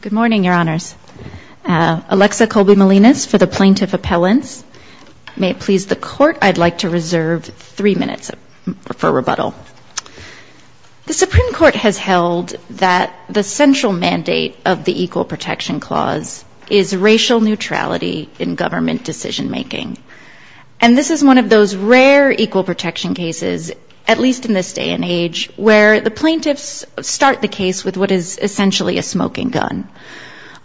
Good morning, Your Honors. Alexa Colby-Melinas for the Plaintiff Appellants. May it please the Court, I'd like to reserve three minutes for rebuttal. The Supreme Court has held that the central mandate of the Equal Protection Clause is racial neutrality in government decision-making. And this is one of those rare equal protection cases, at least in this day and age, where the plaintiffs start the case with what is essentially a smoking gun.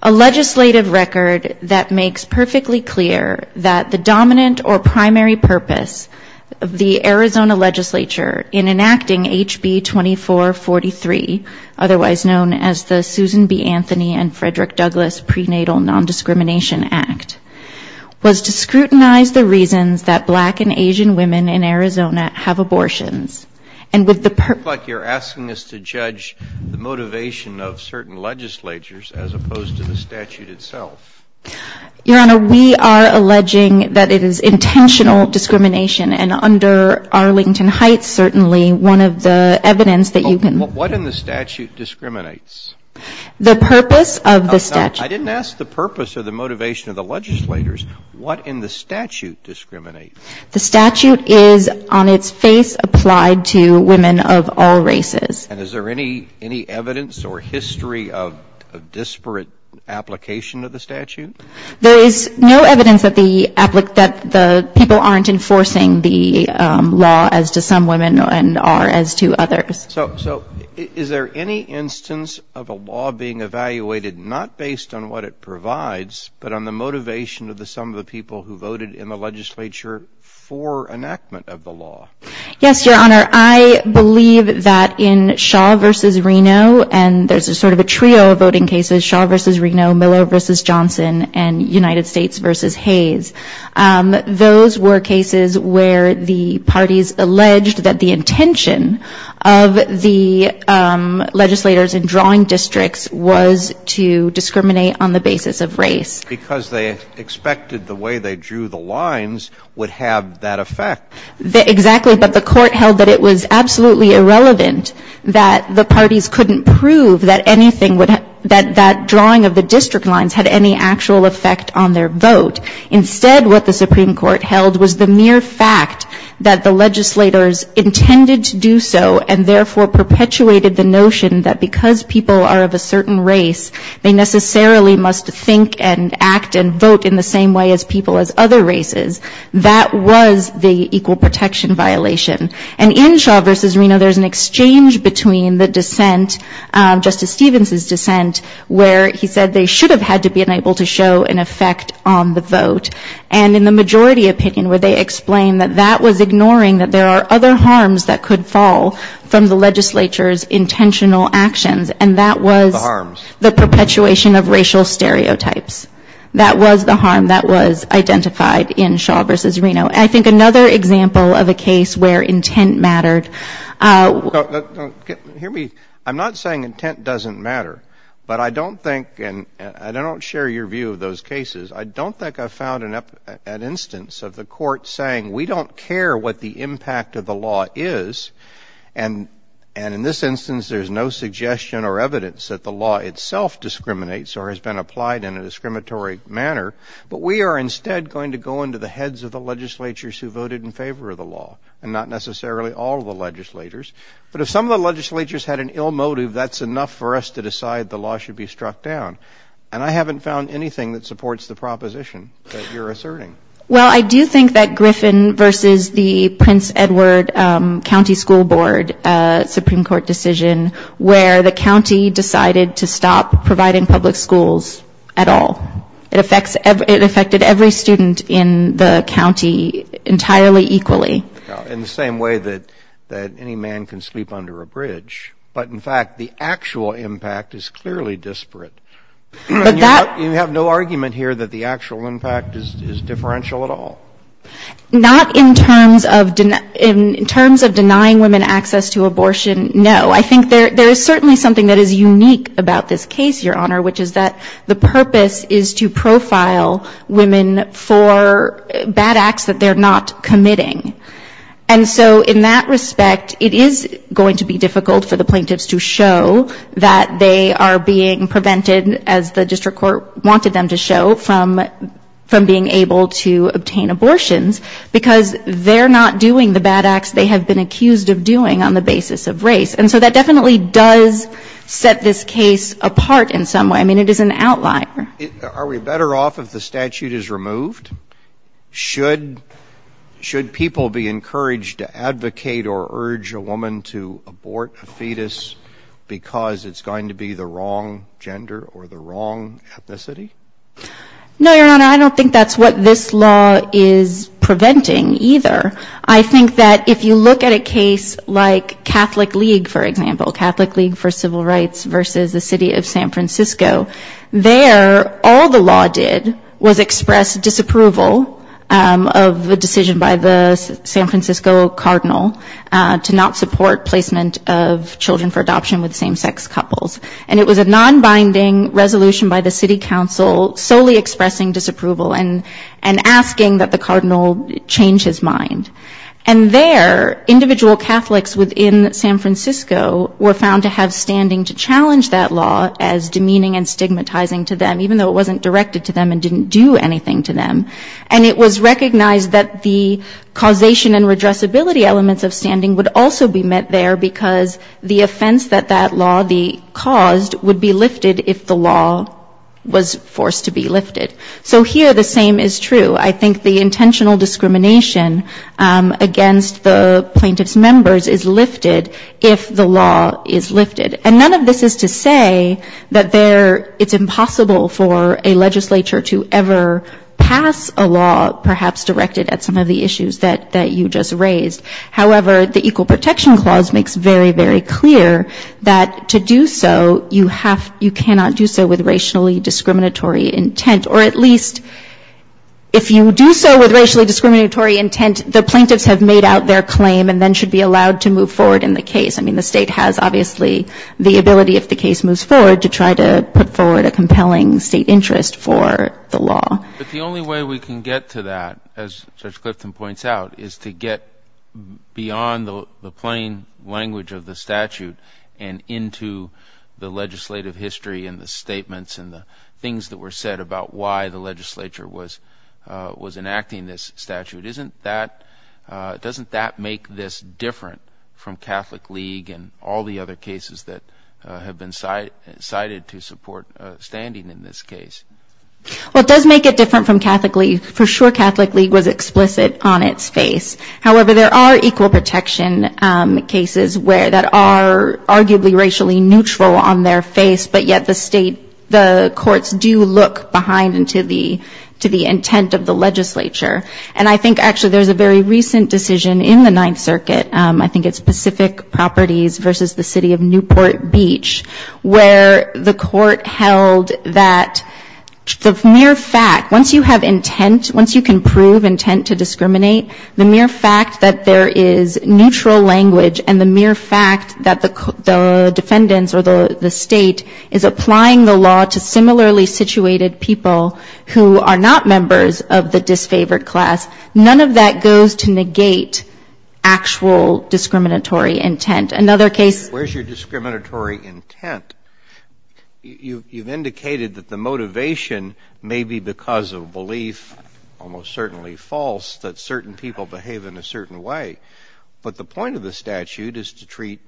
A legislative record that makes perfectly clear that the dominant or primary purpose of the Arizona legislature in enacting H.B. 2443, otherwise known as the Susan B. Anthony and Frederick Douglass Prenatal Nondiscrimination Act, was to scrutinize the reasons that black and Asian women in Arizona have abortions. And with the purpose It looks like you're asking us to judge the motivation of certain legislatures as opposed to the statute itself. Your Honor, we are alleging that it is intentional discrimination. And under Arlington Heights, certainly, one of the evidence that you can What in the statute discriminates? The purpose of the statute I didn't ask the purpose or the motivation of the legislators. What in the statute discriminates? The statute is on its face applied to women of all races. And is there any evidence or history of disparate application of the statute? There is no evidence that the people aren't enforcing the law as to some women and are as to others. So is there any instance of a law being evaluated not based on what it provides, but on the motivation of some of the people who voted in the legislature for enactment of the law? Yes, Your Honor. I believe that in Shaw v. Reno, and there's a sort of a trio of voting cases, Shaw v. Reno, Miller v. Johnson, and United States v. Hayes. Those were cases where the parties alleged that the intention of the legislators in drawing districts was to discriminate on the basis of race. Because they expected the way they drew the lines would have that effect. Exactly. But the Court held that it was absolutely irrelevant that the parties couldn't prove that anything would have, that that drawing of the district lines had any actual effect on their vote. Instead, what the Supreme Court held was the mere fact that the legislators intended to do so and therefore perpetuated the notion that because people are of a certain race, they necessarily must think and act and vote in the same way as people as other races. That was the equal protection violation. And in Shaw v. Reno, there's an exchange between the dissent, Justice Stevens' dissent, where he said they should have had to be able to show an effect on the vote. And in the majority opinion, where they explained that that was ignoring that there are other harms that could fall from the legislature's intentional actions, and that was the perpetuation of racial stereotypes. That was the harm that was identified in Shaw v. Reno. I think another example of a case where intent mattered. Hear me, I'm not saying intent doesn't matter, but I don't think, and I don't share your view of those cases, I don't think I've found an instance of the court saying, we don't care what the impact of the law is, and in this instance, there's no suggestion or evidence that the law itself discriminates or has been applied in a discriminatory manner, but we are instead going to go into the heads of the legislatures who voted in favor of the law, and not necessarily all of the legislators. But if some of the legislatures had an ill motive, that's enough for us to decide the law should be struck down. And I haven't found anything that supports the proposition that you're asserting. Well, I do think that Griffin v. the Prince Edward County School Board Supreme Court decision, where the county decided to stop providing public schools at all, it affected every student in the county entirely equally. In the same way that any man can sleep under a bridge. But in fact, the actual impact is clearly disparate. You have no argument here that the actual impact is differential at all. Not in terms of denying women access to abortion, no. I think there is certainly something that is unique about this case, Your Honor, which is that the purpose is to profile women for bad acts that they're not committing. And so in that respect, it is going to be difficult for the plaintiffs to show that they are being prevented, as the district court wanted them to show, from being able to obtain abortions because they're not doing the bad acts they have been accused of doing on the basis of race. And so that definitely does set this case apart in some way. I mean, it is an outlier. Are we better off if the statute is removed? Should people be encouraged to advocate or urge a woman to abort a fetus because it's going to be the wrong gender or the wrong ethnicity? No, Your Honor, I don't think that's what this law is preventing either. I think that if you look at a case like Catholic League, for example, Catholic League for Civil Rights versus the city of San Francisco, there all the law did was express disapproval of a decision by the San Francisco cardinal to not support placement of children for adoption with same-sex couples. And it was a non-binding resolution by the city council solely expressing disapproval and asking that the cardinal change his mind. And there, individual Catholics within San Francisco were found to have standing to challenge that law as demeaning and stigmatizing to them, even though it wasn't directed to them and didn't do anything to them. And it was recognized that the causation and redressability elements of standing would also be met there because the offense that that law caused would be lifted if the law was forced to be lifted. So here the same is true. I think the intentional discrimination against the plaintiff's members is lifted if the law is lifted. And none of this is to say that it's impossible for a legislature to ever pass a law perhaps directed at some of the issues that you just raised. However, the Equal Protection Clause makes very, very clear that to do so, you cannot do so with racially discriminatory intent. Or at least if you do so with racially discriminatory intent, the plaintiffs have made out their claim and then should be allowed to move forward in the case. I mean, the State has obviously the ability, if the case moves forward, to try to put forward a compelling State interest for the law. But the only way we can get to that, as Judge Clifton points out, is to get beyond the plain language of the statute and into the legislative history and the statements and the things that were said about why the legislature was enacting this statute. Doesn't that make this different from Catholic League and all the other cases that have been cited to support standing in this case? Well, it does make it different from Catholic League. For sure, Catholic League was explicit on its face. However, there are equal protection cases that are arguably racially neutral on their face, but yet the courts do look behind into the intent of the legislature. And I think actually there's a very recent decision in the Ninth Circuit, I think it's Pacific Properties versus the City of Newport Beach, where the court held that the mere fact, once you have intent, once you can prove intent to discriminate, the mere fact that there is neutral language and the mere fact that the defendants or the State is applying the law to similarly favored class, none of that goes to negate actual discriminatory intent. Another case ---- Where's your discriminatory intent? You've indicated that the motivation may be because of belief, almost certainly false, that certain people behave in a certain way. But the point of the statute is to treat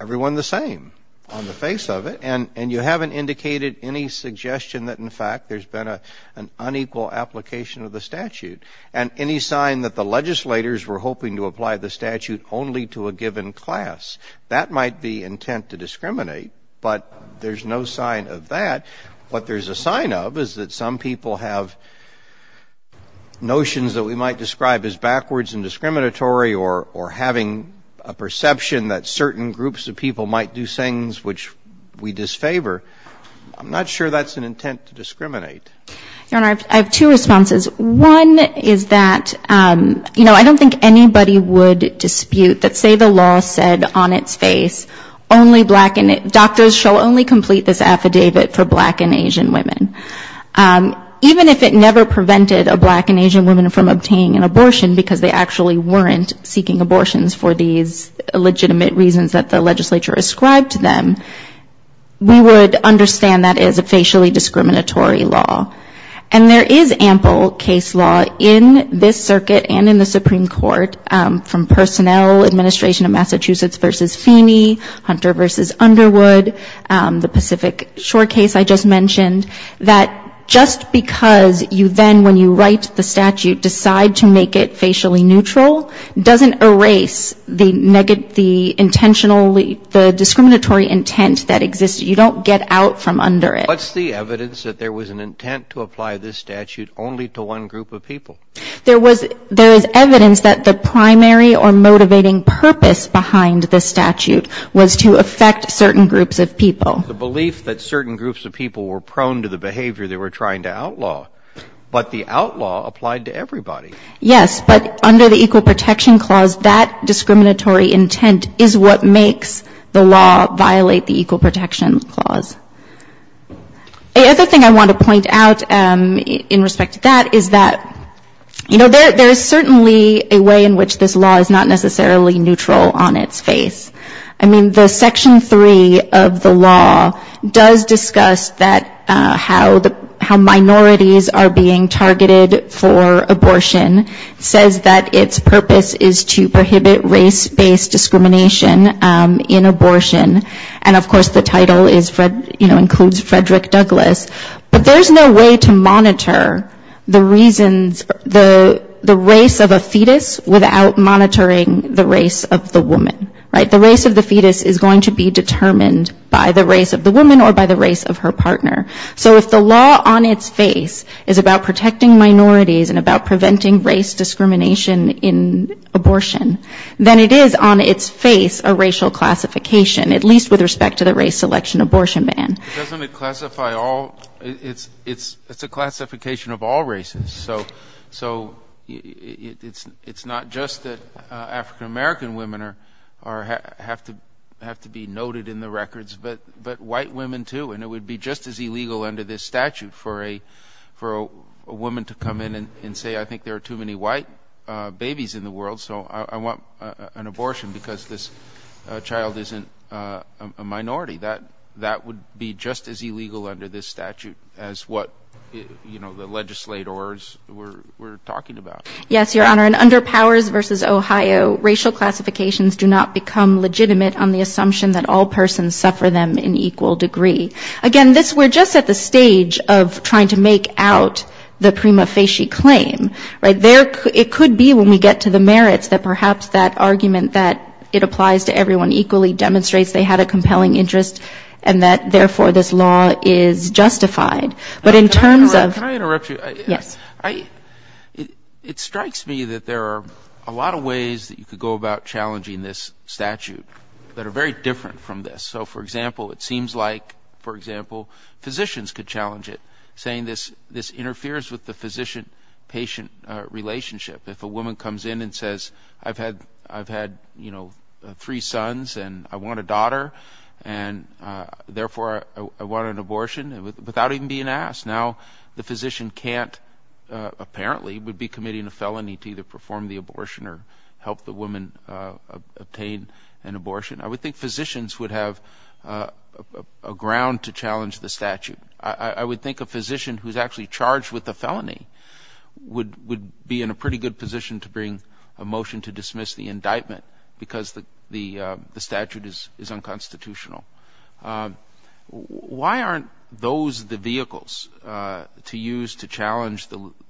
everyone the same on the face of it, and you haven't indicated any suggestion that, in fact, there's been an unequal application of the statute. And any sign that the legislators were hoping to apply the statute only to a given class, that might be intent to discriminate, but there's no sign of that. What there's a sign of is that some people have notions that we might describe as backwards and discriminatory or having a perception that certain groups of people might do things which we disfavor. I'm not sure that's an intent to discriminate. Your Honor, I have two responses. One is that, you know, I don't think anybody would dispute that say the law said on its face only black and ---- doctors shall only complete this affidavit for black and Asian women. Even if it never prevented a black and Asian woman from obtaining an abortion because they actually weren't seeking abortions for these legitimate reasons that the legislature ascribed to them, we would understand that as a facially discriminatory law. And there is ample case law in this circuit and in the Supreme Court from personnel, administration of Massachusetts v. Feeney, Hunter v. Underwood, the Pacific Shore case I just mentioned, that just because you then, when you write the statute, decide to make it facially neutral, doesn't erase the intentionally, the discriminatory intent that exists. You don't get out from under it. What's the evidence that there was an intent to apply this statute only to one group of people? There is evidence that the primary or motivating purpose behind the statute was to affect certain groups of people. The belief that certain groups of people were prone to the behavior they were trying to outlaw. But the outlaw applied to everybody. Yes, but under the Equal Protection Clause, that discriminatory intent is what makes the law violate the Equal Protection Clause. The other thing I want to point out in respect to that is that, you know, there is certainly a way in which this law is not necessarily neutral on its face. I mean, the Section 3 of the law does discuss that, how minorities are being targeted for abortion. It says that its purpose is to prohibit race-based discrimination in abortion. And, of course, the title is, you know, includes Frederick Douglass. But there's no way to monitor the reasons, the race of a fetus without monitoring the race of the woman. Right? The race of the fetus is going to be determined by the race of the woman or by the race of her partner. So if the law on its face is about protecting minorities and about preventing race discrimination in abortion, then it is on its face a racial classification, at least with respect to the race selection abortion ban. Doesn't it classify all? It's a classification of all races. So it's not just that African-American women have to be noted in the records, but white women, too. And it would be just as illegal under this statute for a woman to come in and say, I think there are too many white babies in the world, so I want an abortion because this child isn't a minority. That would be just as illegal under this statute as what, you know, the legislators were talking about. Yes, Your Honor. And under Powers v. Ohio, racial classifications do not become legitimate on the assumption that all persons suffer them in equal degree. Again, we're just at the stage of trying to make out the prima facie claim. Right? It could be when we get to the merits that perhaps that argument that it applies to everyone equally demonstrates they had a compelling interest in the case, and that therefore this law is justified. But in terms of... Can I interrupt you? Yes. It strikes me that there are a lot of ways that you could go about challenging this statute that are very different from this. So, for example, it seems like, for example, physicians could challenge it, saying this interferes with the physician-patient relationship. If a woman comes in and says, I've had, you know, three sons, and I want a daughter, and therefore I want an abortion, without even being asked. Now, the physician can't, apparently, would be committing a felony to either perform the abortion or help the woman obtain an abortion. I would think physicians would have a ground to challenge the statute. I would think a physician who's actually charged with a felony would be in a pretty good position to bring a motion to dismiss the indictment, because the statute is unconstitutional. Why aren't those the vehicles to use to challenge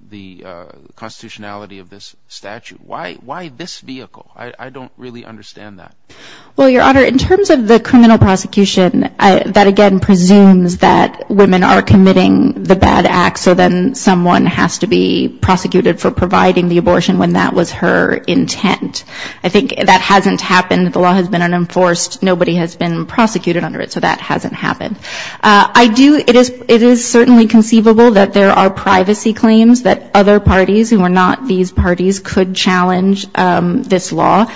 the constitutionality of this statute? Why this vehicle? I don't really understand that. Well, Your Honor, in terms of the criminal prosecution, that again presumes that women are committing the bad act, so then someone has to be prosecuted for providing the abortion when that was her intent. I think that hasn't happened. The law has been unenforced. Nobody has been prosecuted under it. So that hasn't happened. I do, it is certainly conceivable that there are privacy claims that other parties who are not these parties could challenge this law.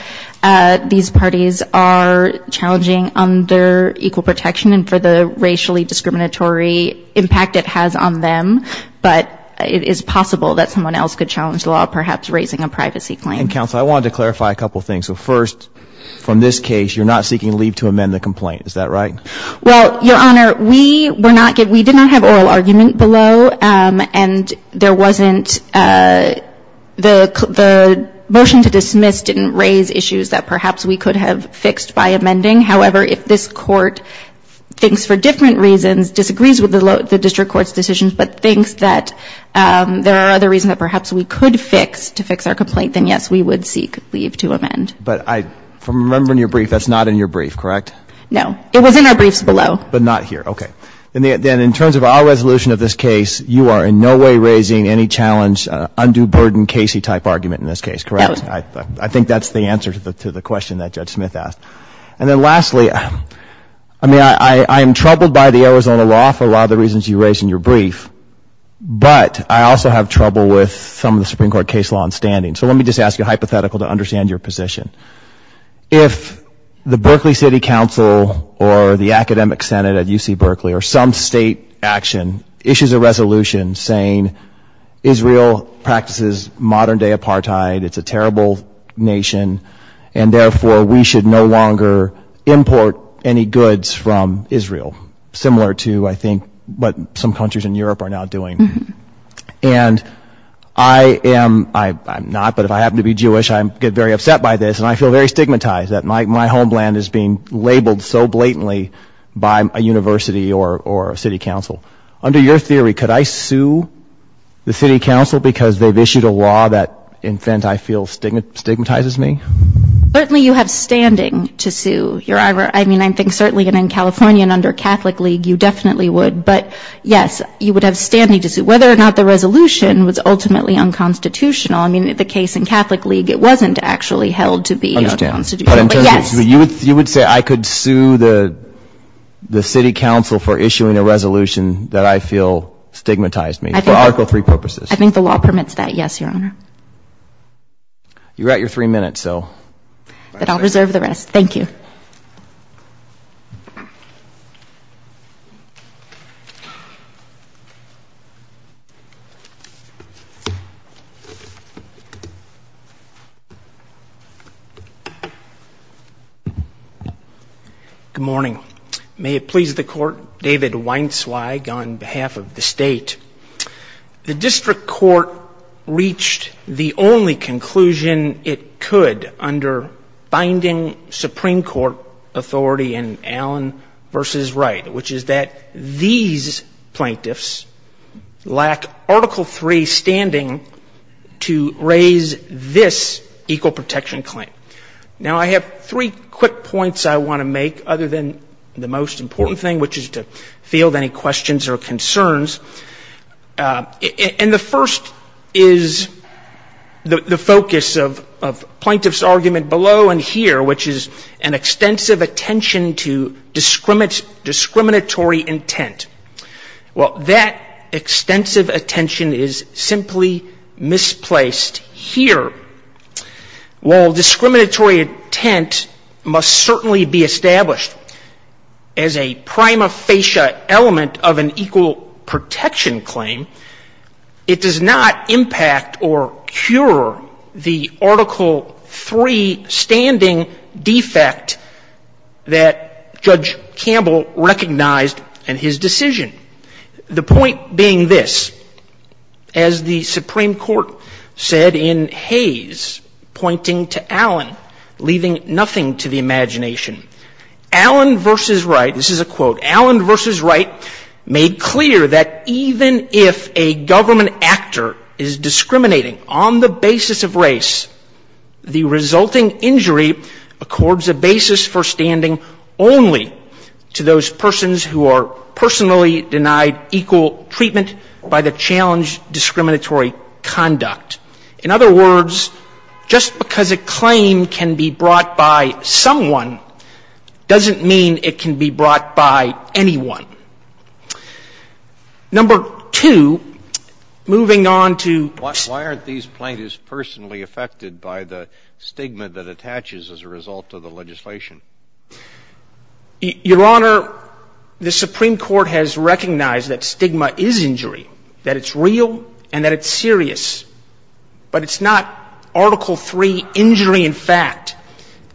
These parties are challenging under equal protection and for the racially discriminatory impact it has on them. But it is possible that someone else could challenge the law, perhaps raising a privacy claim. And, counsel, I wanted to clarify a couple of things. So first, from this case, you're not seeking leave to amend the complaint. Is that right? Well, Your Honor, we were not given, we did not have oral argument below, and there wasn't, the motion to dismiss didn't raise the issue. It raised issues that perhaps we could have fixed by amending. However, if this Court thinks for different reasons, disagrees with the district court's decisions, but thinks that there are other reasons that perhaps we could fix to fix our complaint, then, yes, we would seek leave to amend. But I, from remembering your brief, that's not in your brief, correct? No. It was in our briefs below. But not here. Okay. Then, in terms of our resolution of this case, you are in no way raising any challenge, undue burden, Casey-type argument in this case, correct? Yes. I think that's the answer to the question that Judge Smith asked. And then, lastly, I mean, I am troubled by the Arizona law for a lot of the reasons you raised in your brief, but I also have trouble with some of the Supreme Court case law in standing. So let me just ask you a hypothetical to understand your position. If the Berkeley City Council or the Academic Senate at UC Berkeley or some state action issues a resolution saying Israel practices modern-day apartheid, it's a terrible nation, and therefore we should no longer import any goods from Israel, similar to, I think, what some countries in Europe are now doing. And I am, I'm not, but if I happen to be Jewish, I get very upset by this, and I feel very stigmatized that my homeland is being labeled so blatantly by a university or a city council. Under your theory, could I sue the city council because they've issued a law that, in fact, I feel stigmatizes me? Certainly you have standing to sue. Your Honor, I mean, I think certainly in California and under Catholic League, you definitely would. But, yes, you would have standing to sue, whether or not the resolution was ultimately unconstitutional. I mean, the case in Catholic League, it wasn't actually held to be unconstitutional, but yes. You would say I could sue the city council for issuing a resolution that I feel stigmatized me, for Article III purposes? I think the law permits that, yes, Your Honor. You're at your three minutes, so... Good morning. May it please the Court, David Weinzweig on behalf of the State. The district court reached the only conclusion it could under binding Supreme Court authority in Allen v. Wright, which is that these plaintiffs lack Article III standing to raise this equal protection claim. Now, I have three quick points I want to make, other than the most important thing, which is to field any questions or concerns. And the first is the focus of plaintiff's argument below and here, which is an extensive attention to discriminatory intent. Well, that extensive attention is simply misplaced here. While discriminatory intent must certainly be established as a prima facie element of an equal protection claim, it does not impact or cure the Article III standing defect that Judge Campbell recognized in his decision. The point being this, as the Supreme Court said in Hayes, pointing to Allen, leaving nothing to the imagination, Allen v. Wright, this is a quote, if a government actor is discriminating on the basis of race, the resulting injury accords a basis for standing only to those persons who are personally denied equal treatment by the challenged discriminatory conduct. In other words, just because a claim can be brought by someone, doesn't mean it can be brought by anyone. Number two, moving on to why aren't these plaintiffs personally affected by the stigma that attaches as a result of the legislation? Your Honor, the Supreme Court has recognized that stigma is injury, that it's real and that it's serious. But it's not Article III injury in fact,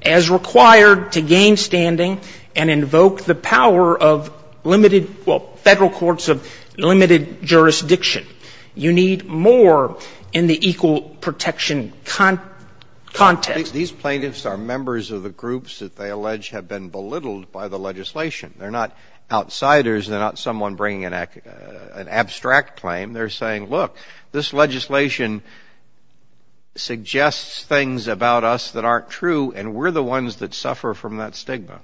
as required to gain standing and invoke the power of limiting the stigma. Federal courts of limited jurisdiction, you need more in the equal protection context. These plaintiffs are members of the groups that they allege have been belittled by the legislation. They're not outsiders, they're not someone bringing an abstract claim, they're saying, look, this legislation suggests things about us that aren't true and we're the ones that suffer from that stigma.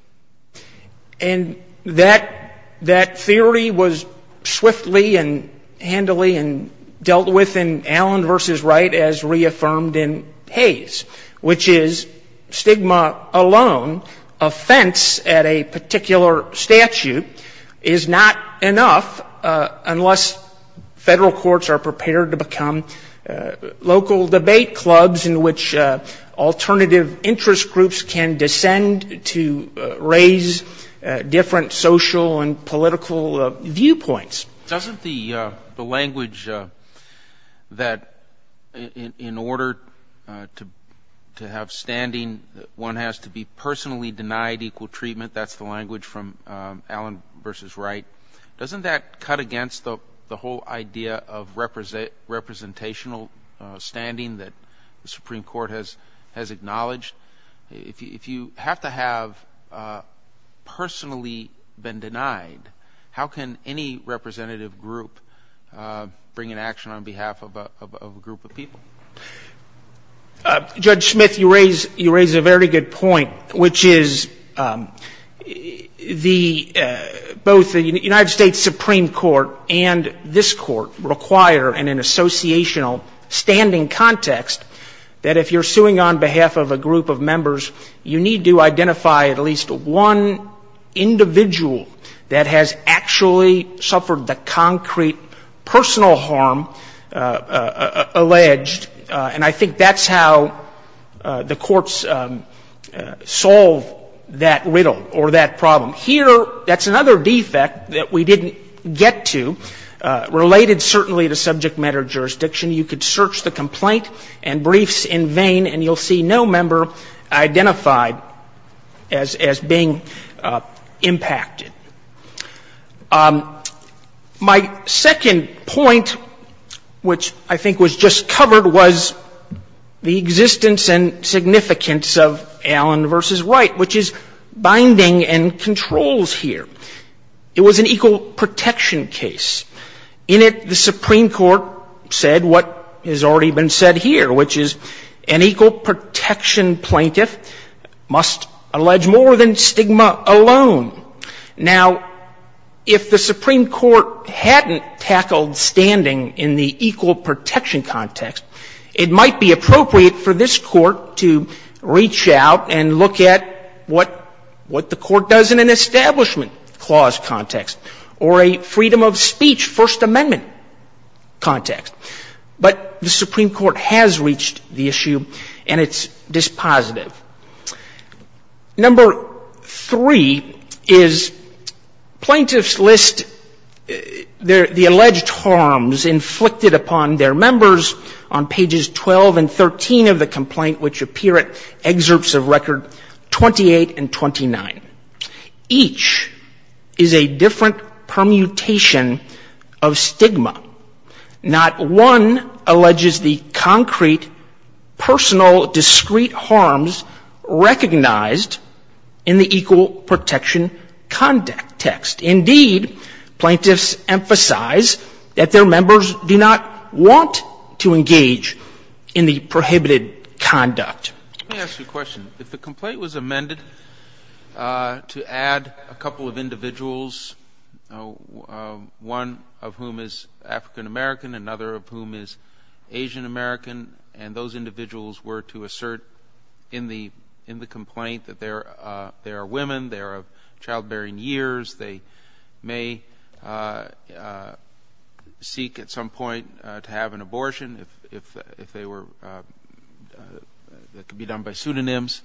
And that theory was swiftly and handily dealt with in Allen v. Wright as reaffirmed in Hayes, which is stigma alone, offense at a particular statute is not enough unless federal courts are prepared to become local debate clubs in which alternative interest groups can descend to raise different social and political viewpoints. Doesn't the language that in order to have standing, one has to be personally denied equal treatment, that's the language from Allen v. Wright, doesn't that cut against the whole idea of representational standing that the Supreme Court has acknowledged, if you have to have personally been denied, how can any representative group bring an action on behalf of a group of people? Judge Smith, you raise a very good point, which is the, both the United States Supreme Court and this Court require in an election on behalf of a group of members, you need to identify at least one individual that has actually suffered the concrete personal harm alleged, and I think that's how the courts solve that riddle or that problem. Here, that's another defect that we didn't get to, related certainly to subject matter jurisdiction. You could search the complaint and briefs in vain and you'll see no member identified as being impacted. My second point, which I think was just covered, was the existence and significance of Allen v. Wright, which is binding and controls here. It was an equal protection case. In it, the Supreme Court said what has already been said here, which is an equal protection plaintiff must allege more than stigma alone. Now, if the Supreme Court hadn't tackled standing in the equal protection context, it might be appropriate for this Court to reach out and look at what the Court does in an establishment clause context or a freedom of speech First Amendment context. But the Supreme Court has reached the issue and it's dispositive. Number three is plaintiffs list the alleged harms inflicted upon their members on pages 12 and 13 of the complaint, which appear at excerpts of record 28 and 29. Each is a different permutation of stigma. Not one alleges the concrete, personal, discrete harms recognized in the equal protection context. Indeed, plaintiffs emphasize that their members do not want to engage in the prohibited context. Let me ask you a question. If the complaint was amended to add a couple of individuals, one of whom is African-American, another of whom is Asian-American, and those individuals were to assert in the complaint that they are women, they are of childbearing years, they may seek at some point to have an abortion if they were, that could be done by pseudonyms,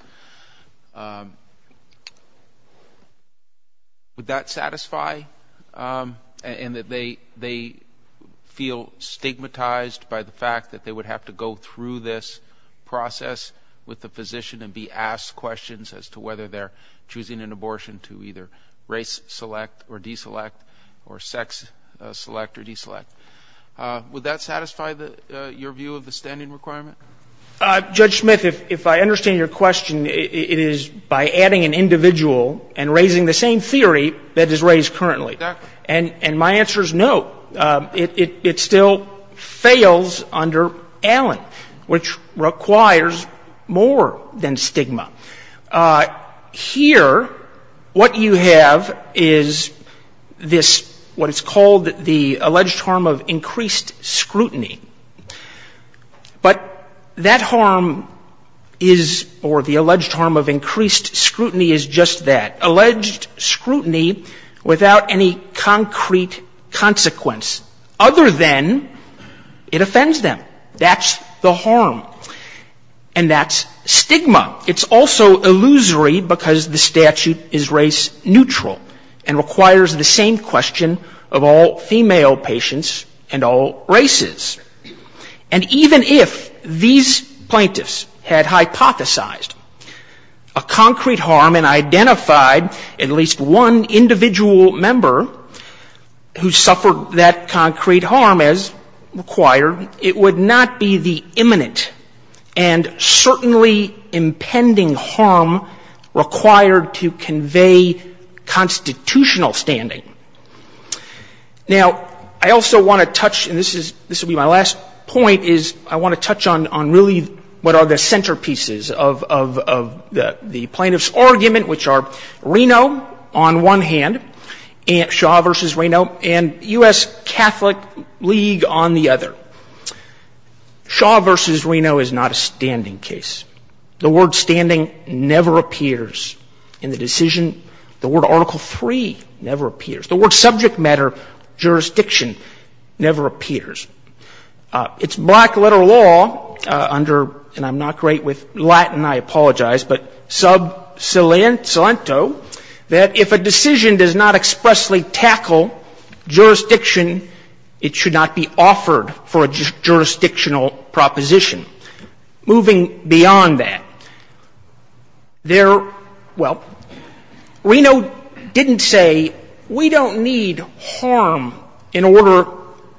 would that satisfy? And that they feel stigmatized by the fact that they would have to go through this process with the physician and be asked questions as to whether they're choosing an abortion to either race select or deselect or sex select or deselect. Would that satisfy your view of the standing requirement? Judge Smith, if I understand your question, it is by adding an individual and raising the same theory that is raised currently. And my answer is no. It still fails under Allen, which requires more than stigma. Here, what you have is this, what is called the alleged harm of increased stigma. It's the harm of increased scrutiny. But that harm is, or the alleged harm of increased scrutiny is just that, alleged scrutiny without any concrete consequence, other than it offends them. That's the harm. And that's stigma. It's also illusory because the statute is race neutral and requires the same question of all female patients and all races. And even if these plaintiffs had hypothesized a concrete harm and identified at least one individual member who suffered that concrete harm as required, it would not be the imminent and certainly impeding harm of increased scrutiny. It would be the impending harm required to convey constitutional standing. Now, I also want to touch, and this will be my last point, is I want to touch on really what are the centerpieces of the plaintiff's argument, which are Reno on one hand, Shaw v. Reno, and U.S. Catholic League on the other. Shaw v. Reno is not a standing case. The word standing never appears in the decision. The word Article III never appears. The word subject matter, jurisdiction, never appears. It's black-letter law under, and I'm not great with Latin, I apologize, but sub salento, that if a decision does not expressly tackle jurisdiction, it should not be offered for a reason. It should not be offered for a jurisdictional proposition. Moving beyond that, there, well, Reno didn't say we don't need harm in order,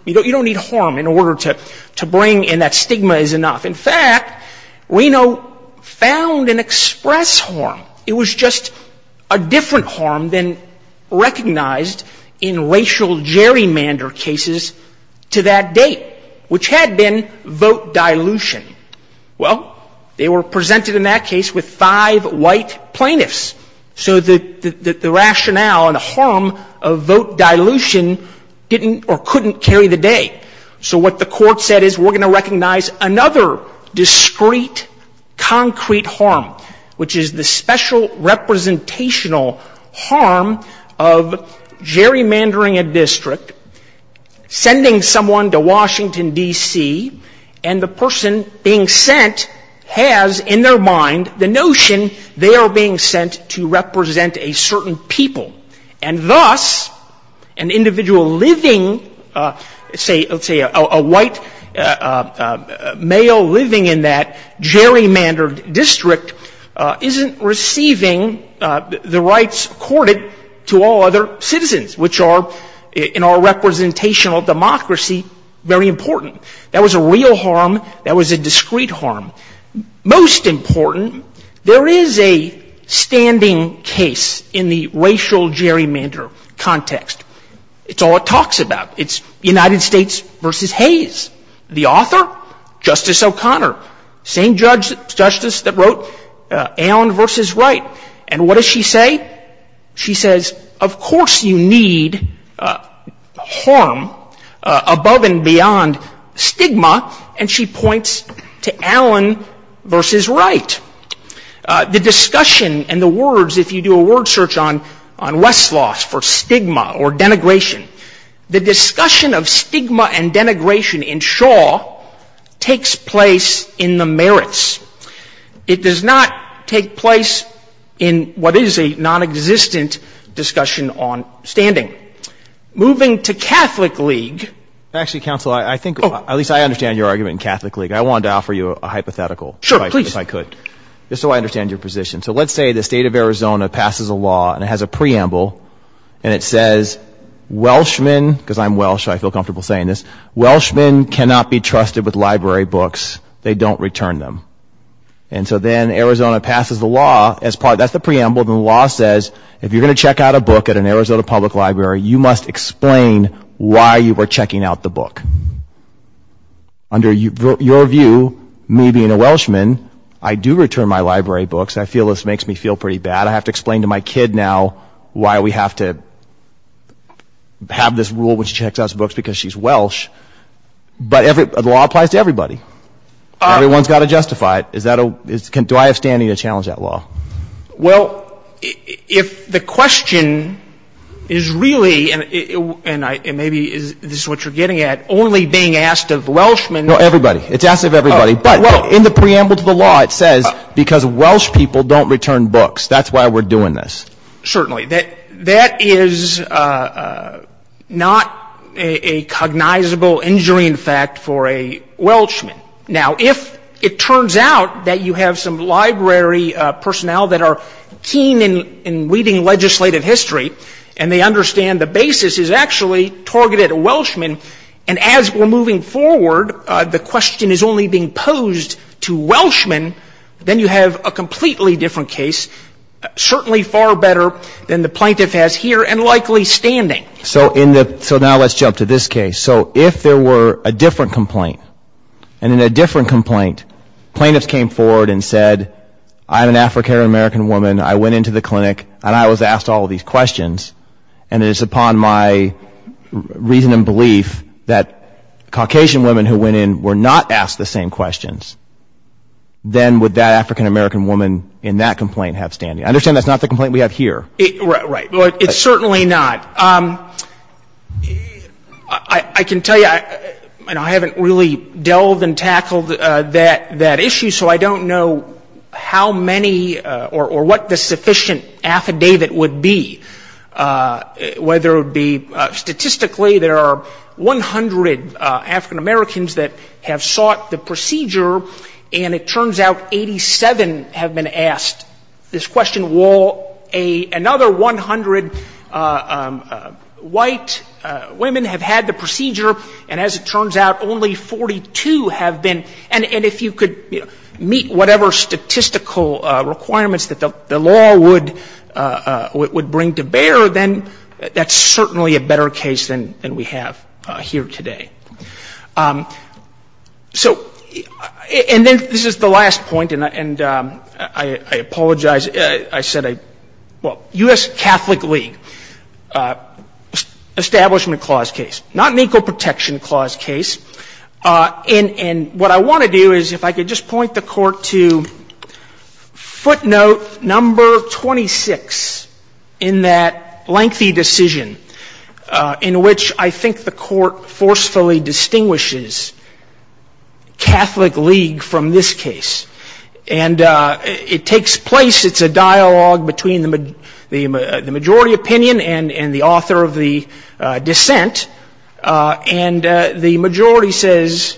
you don't need harm in order to bring in that stigma is enough. In fact, Reno found and expressed harm. It was just a different harm than recognized in racial gerrymander cases to that date. Which had been vote dilution. Well, they were presented in that case with five white plaintiffs. So the rationale and the harm of vote dilution didn't or couldn't carry the day. So what the court said is we're going to recognize another discreet concrete harm, which is the special representational harm of gerrymandering a district, sending someone to Washington, D.C., and the person being sent has in their mind the notion they are being sent to represent a certain people. And thus, an individual living, say, let's say a white male living in that gerrymandered district isn't receiving the rights accorded to all other citizens, which are in our representational democracy very important. That was a real harm, that was a discreet harm. Most important, there is a standing case in the racial gerrymander context. It's all it talks about. It's United States v. Hayes. The author, Justice O'Connor, same justice that wrote Allen v. Wright. And what does she say? She says, of course you need harm above and beyond stigma. And she points to Allen v. Wright. The discussion and the words, if you do a word search on Westlaw for stigma or denigration, the discussion of stigma and denigration in Shaw takes place in the merits. It does not take place in what is a nonexistent discussion on standing. Moving to Catholic League. Actually, counsel, I think, at least I understand your argument in Catholic League. I wanted to offer you a hypothetical. Just so I understand your position. So let's say the state of Arizona passes a law and it has a preamble and it says, Welshman, because I'm Welsh, I feel comfortable saying this, Welshman cannot be trusted with library books. They don't return them. And so then Arizona passes the law as part, that's the preamble, the law says, if you're going to check out a book at an Arizona public library, you must explain why you were checking out the book. Under your view, me being a Welshman, I do return my library books. I feel this makes me feel pretty bad. I have to explain to my kid now why we have to have this rule which checks out books because she's Welsh. But the law applies to everybody. Everyone's got to justify it. Do I have standing to challenge that law? Well, if the question is really, and maybe this is what you're getting at, only being asked of Welshmen. No, everybody. It's asked of everybody. But in the preamble to the law it says because Welsh people don't return books. That's why we're doing this. Certainly. That is not a cognizable injury, in fact, for a Welshman. Now, if it turns out that you have some library personnel that are keen in reading legislative history and they understand the basis is actually targeted at Welshmen, and as we're moving forward, the question is only being posed to Welshmen, then you have a completely different case, certainly far better than the plaintiff has here, and likely standing. So now let's jump to this case. So if there were a different complaint, and in a different complaint plaintiffs came forward and said, I'm an African-American woman, I went into the clinic, and I was asked all these questions, and it's upon my right to reason and belief that Caucasian women who went in were not asked the same questions, then would that African-American woman in that complaint have standing? I understand that's not the complaint we have here. Right. It's certainly not. I can tell you, and I haven't really delved and tackled that issue, so I don't know how many or what the sufficient affidavit would be, whether it would be statistically there are 100 African-Americans that have sought the procedure, and it turns out 87 have been asked this question. Will another 100 white women have had the procedure? And as it turns out, only 42 have been. And if you could meet whatever statistical requirements that the law would bring to bear, that's certainly a better case than we have here today. So and then this is the last point, and I apologize. I said, well, U.S. Catholic League, establishment clause case, not an equal protection clause case. And what I want to do is if I could just point the Court to footnote number 26 in that language which is a lengthy decision in which I think the Court forcefully distinguishes Catholic League from this case. And it takes place, it's a dialogue between the majority opinion and the author of the dissent, and the majority says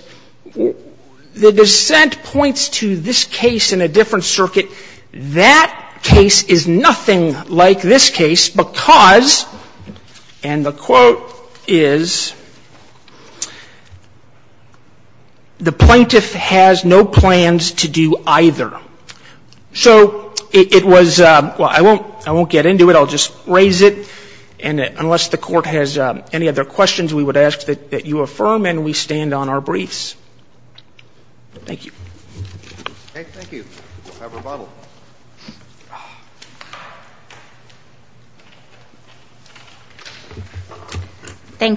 the dissent points to this case in a different circuit. That case is nothing like this case because, and the quote is, the plaintiff has no plans to do either. So it was, well, I won't get into it. I'll just raise it, and unless the Court has any other questions, we would ask that you affirm, and we stand on our briefs. Thank you. Thank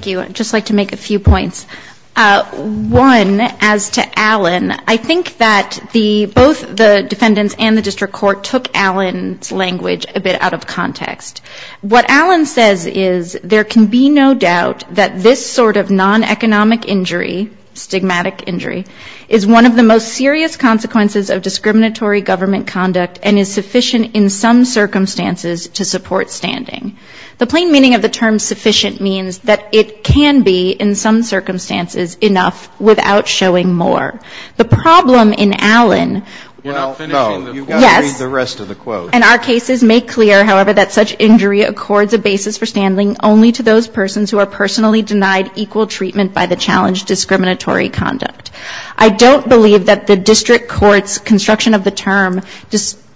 you. I'd just like to make a few points. One, as to Allen, I think that the, both the defendants and the district court took Allen's language a bit out of context. What Allen says is there can be no doubt that this sort of non-economic injury, stigmatic injury, is one of the most serious consequences of discriminatory government conduct and is sufficient in some circumstances to support standing. The plain meaning of the term sufficient means that it can be, in some circumstances, enough without showing more. The problem in Allen, yes, and our cases make clear, however, that such injury accords a basis for standing only to those persons who are personally denied equal treatment by the challenge discriminatory conduct. I don't believe that the district court's construction of the term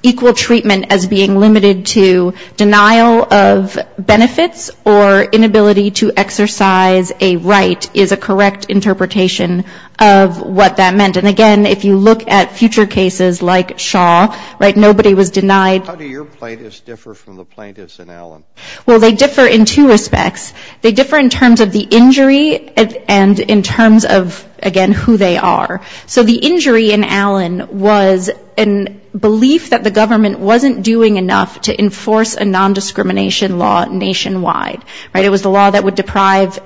equal treatment as being limited to denial of benefits or inability to exercise a right is a correct interpretation of what that meant. And again, if you look at future cases like Shaw, right, nobody was denied. How do your plaintiffs differ from the plaintiffs in Allen? Well, they differ in two respects. They differ in terms of the injury and in terms of, again, who they are. So the injury in Allen was a belief that the government wasn't doing enough to enforce a nondiscrimination law nationwide, right, it was the law that would deprive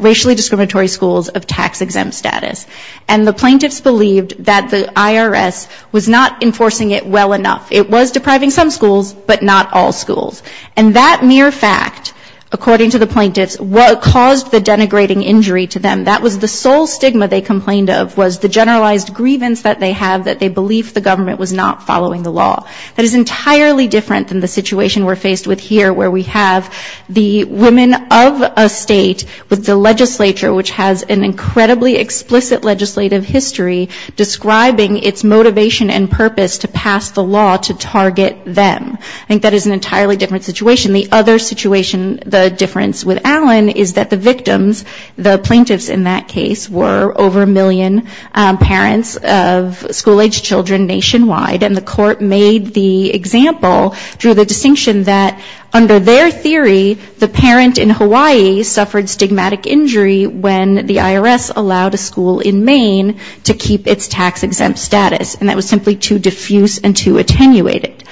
racially discriminatory schools of tax-exempt status. And the plaintiffs believed that the IRS was not enforcing it well enough. It was depriving some schools, but not all schools. And that mere fact, according to the plaintiffs, caused the denigrating injury to them. That was the sole stigma they complained of, was the generalized grievance that they have that they believed the government was not following the law. That is entirely different than the situation we're faced with here, where we have the women of a state with the legislature, which has an incredibly explicit legislative history describing its motivation and purpose to pass the law to target them. I think that is an entirely different situation. The other situation, the difference with Allen, is that the victims, the plaintiffs in that case, were over a million parents of school-aged children nationwide, and the court made the example, drew the distinction that under their theory, the parent in Hawaii suffered stigmatic injury when the IRS allowed a school in Maine to keep its tax-exempt status. And that was simply too diffuse and too attenuated.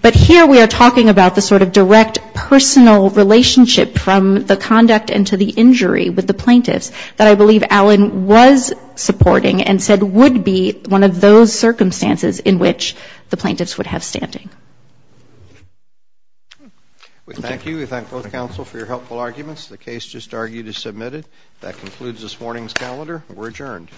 But here we are talking about the sort of direct personal relationship from the conduct and to the injury with the plaintiffs that I believe Allen was supporting and said would be one of those circumstances in which the plaintiffs would have standing. Thank you. We thank both counsel for your helpful arguments. The case just argued is submitted. That concludes this morning's calendar. We're adjourned.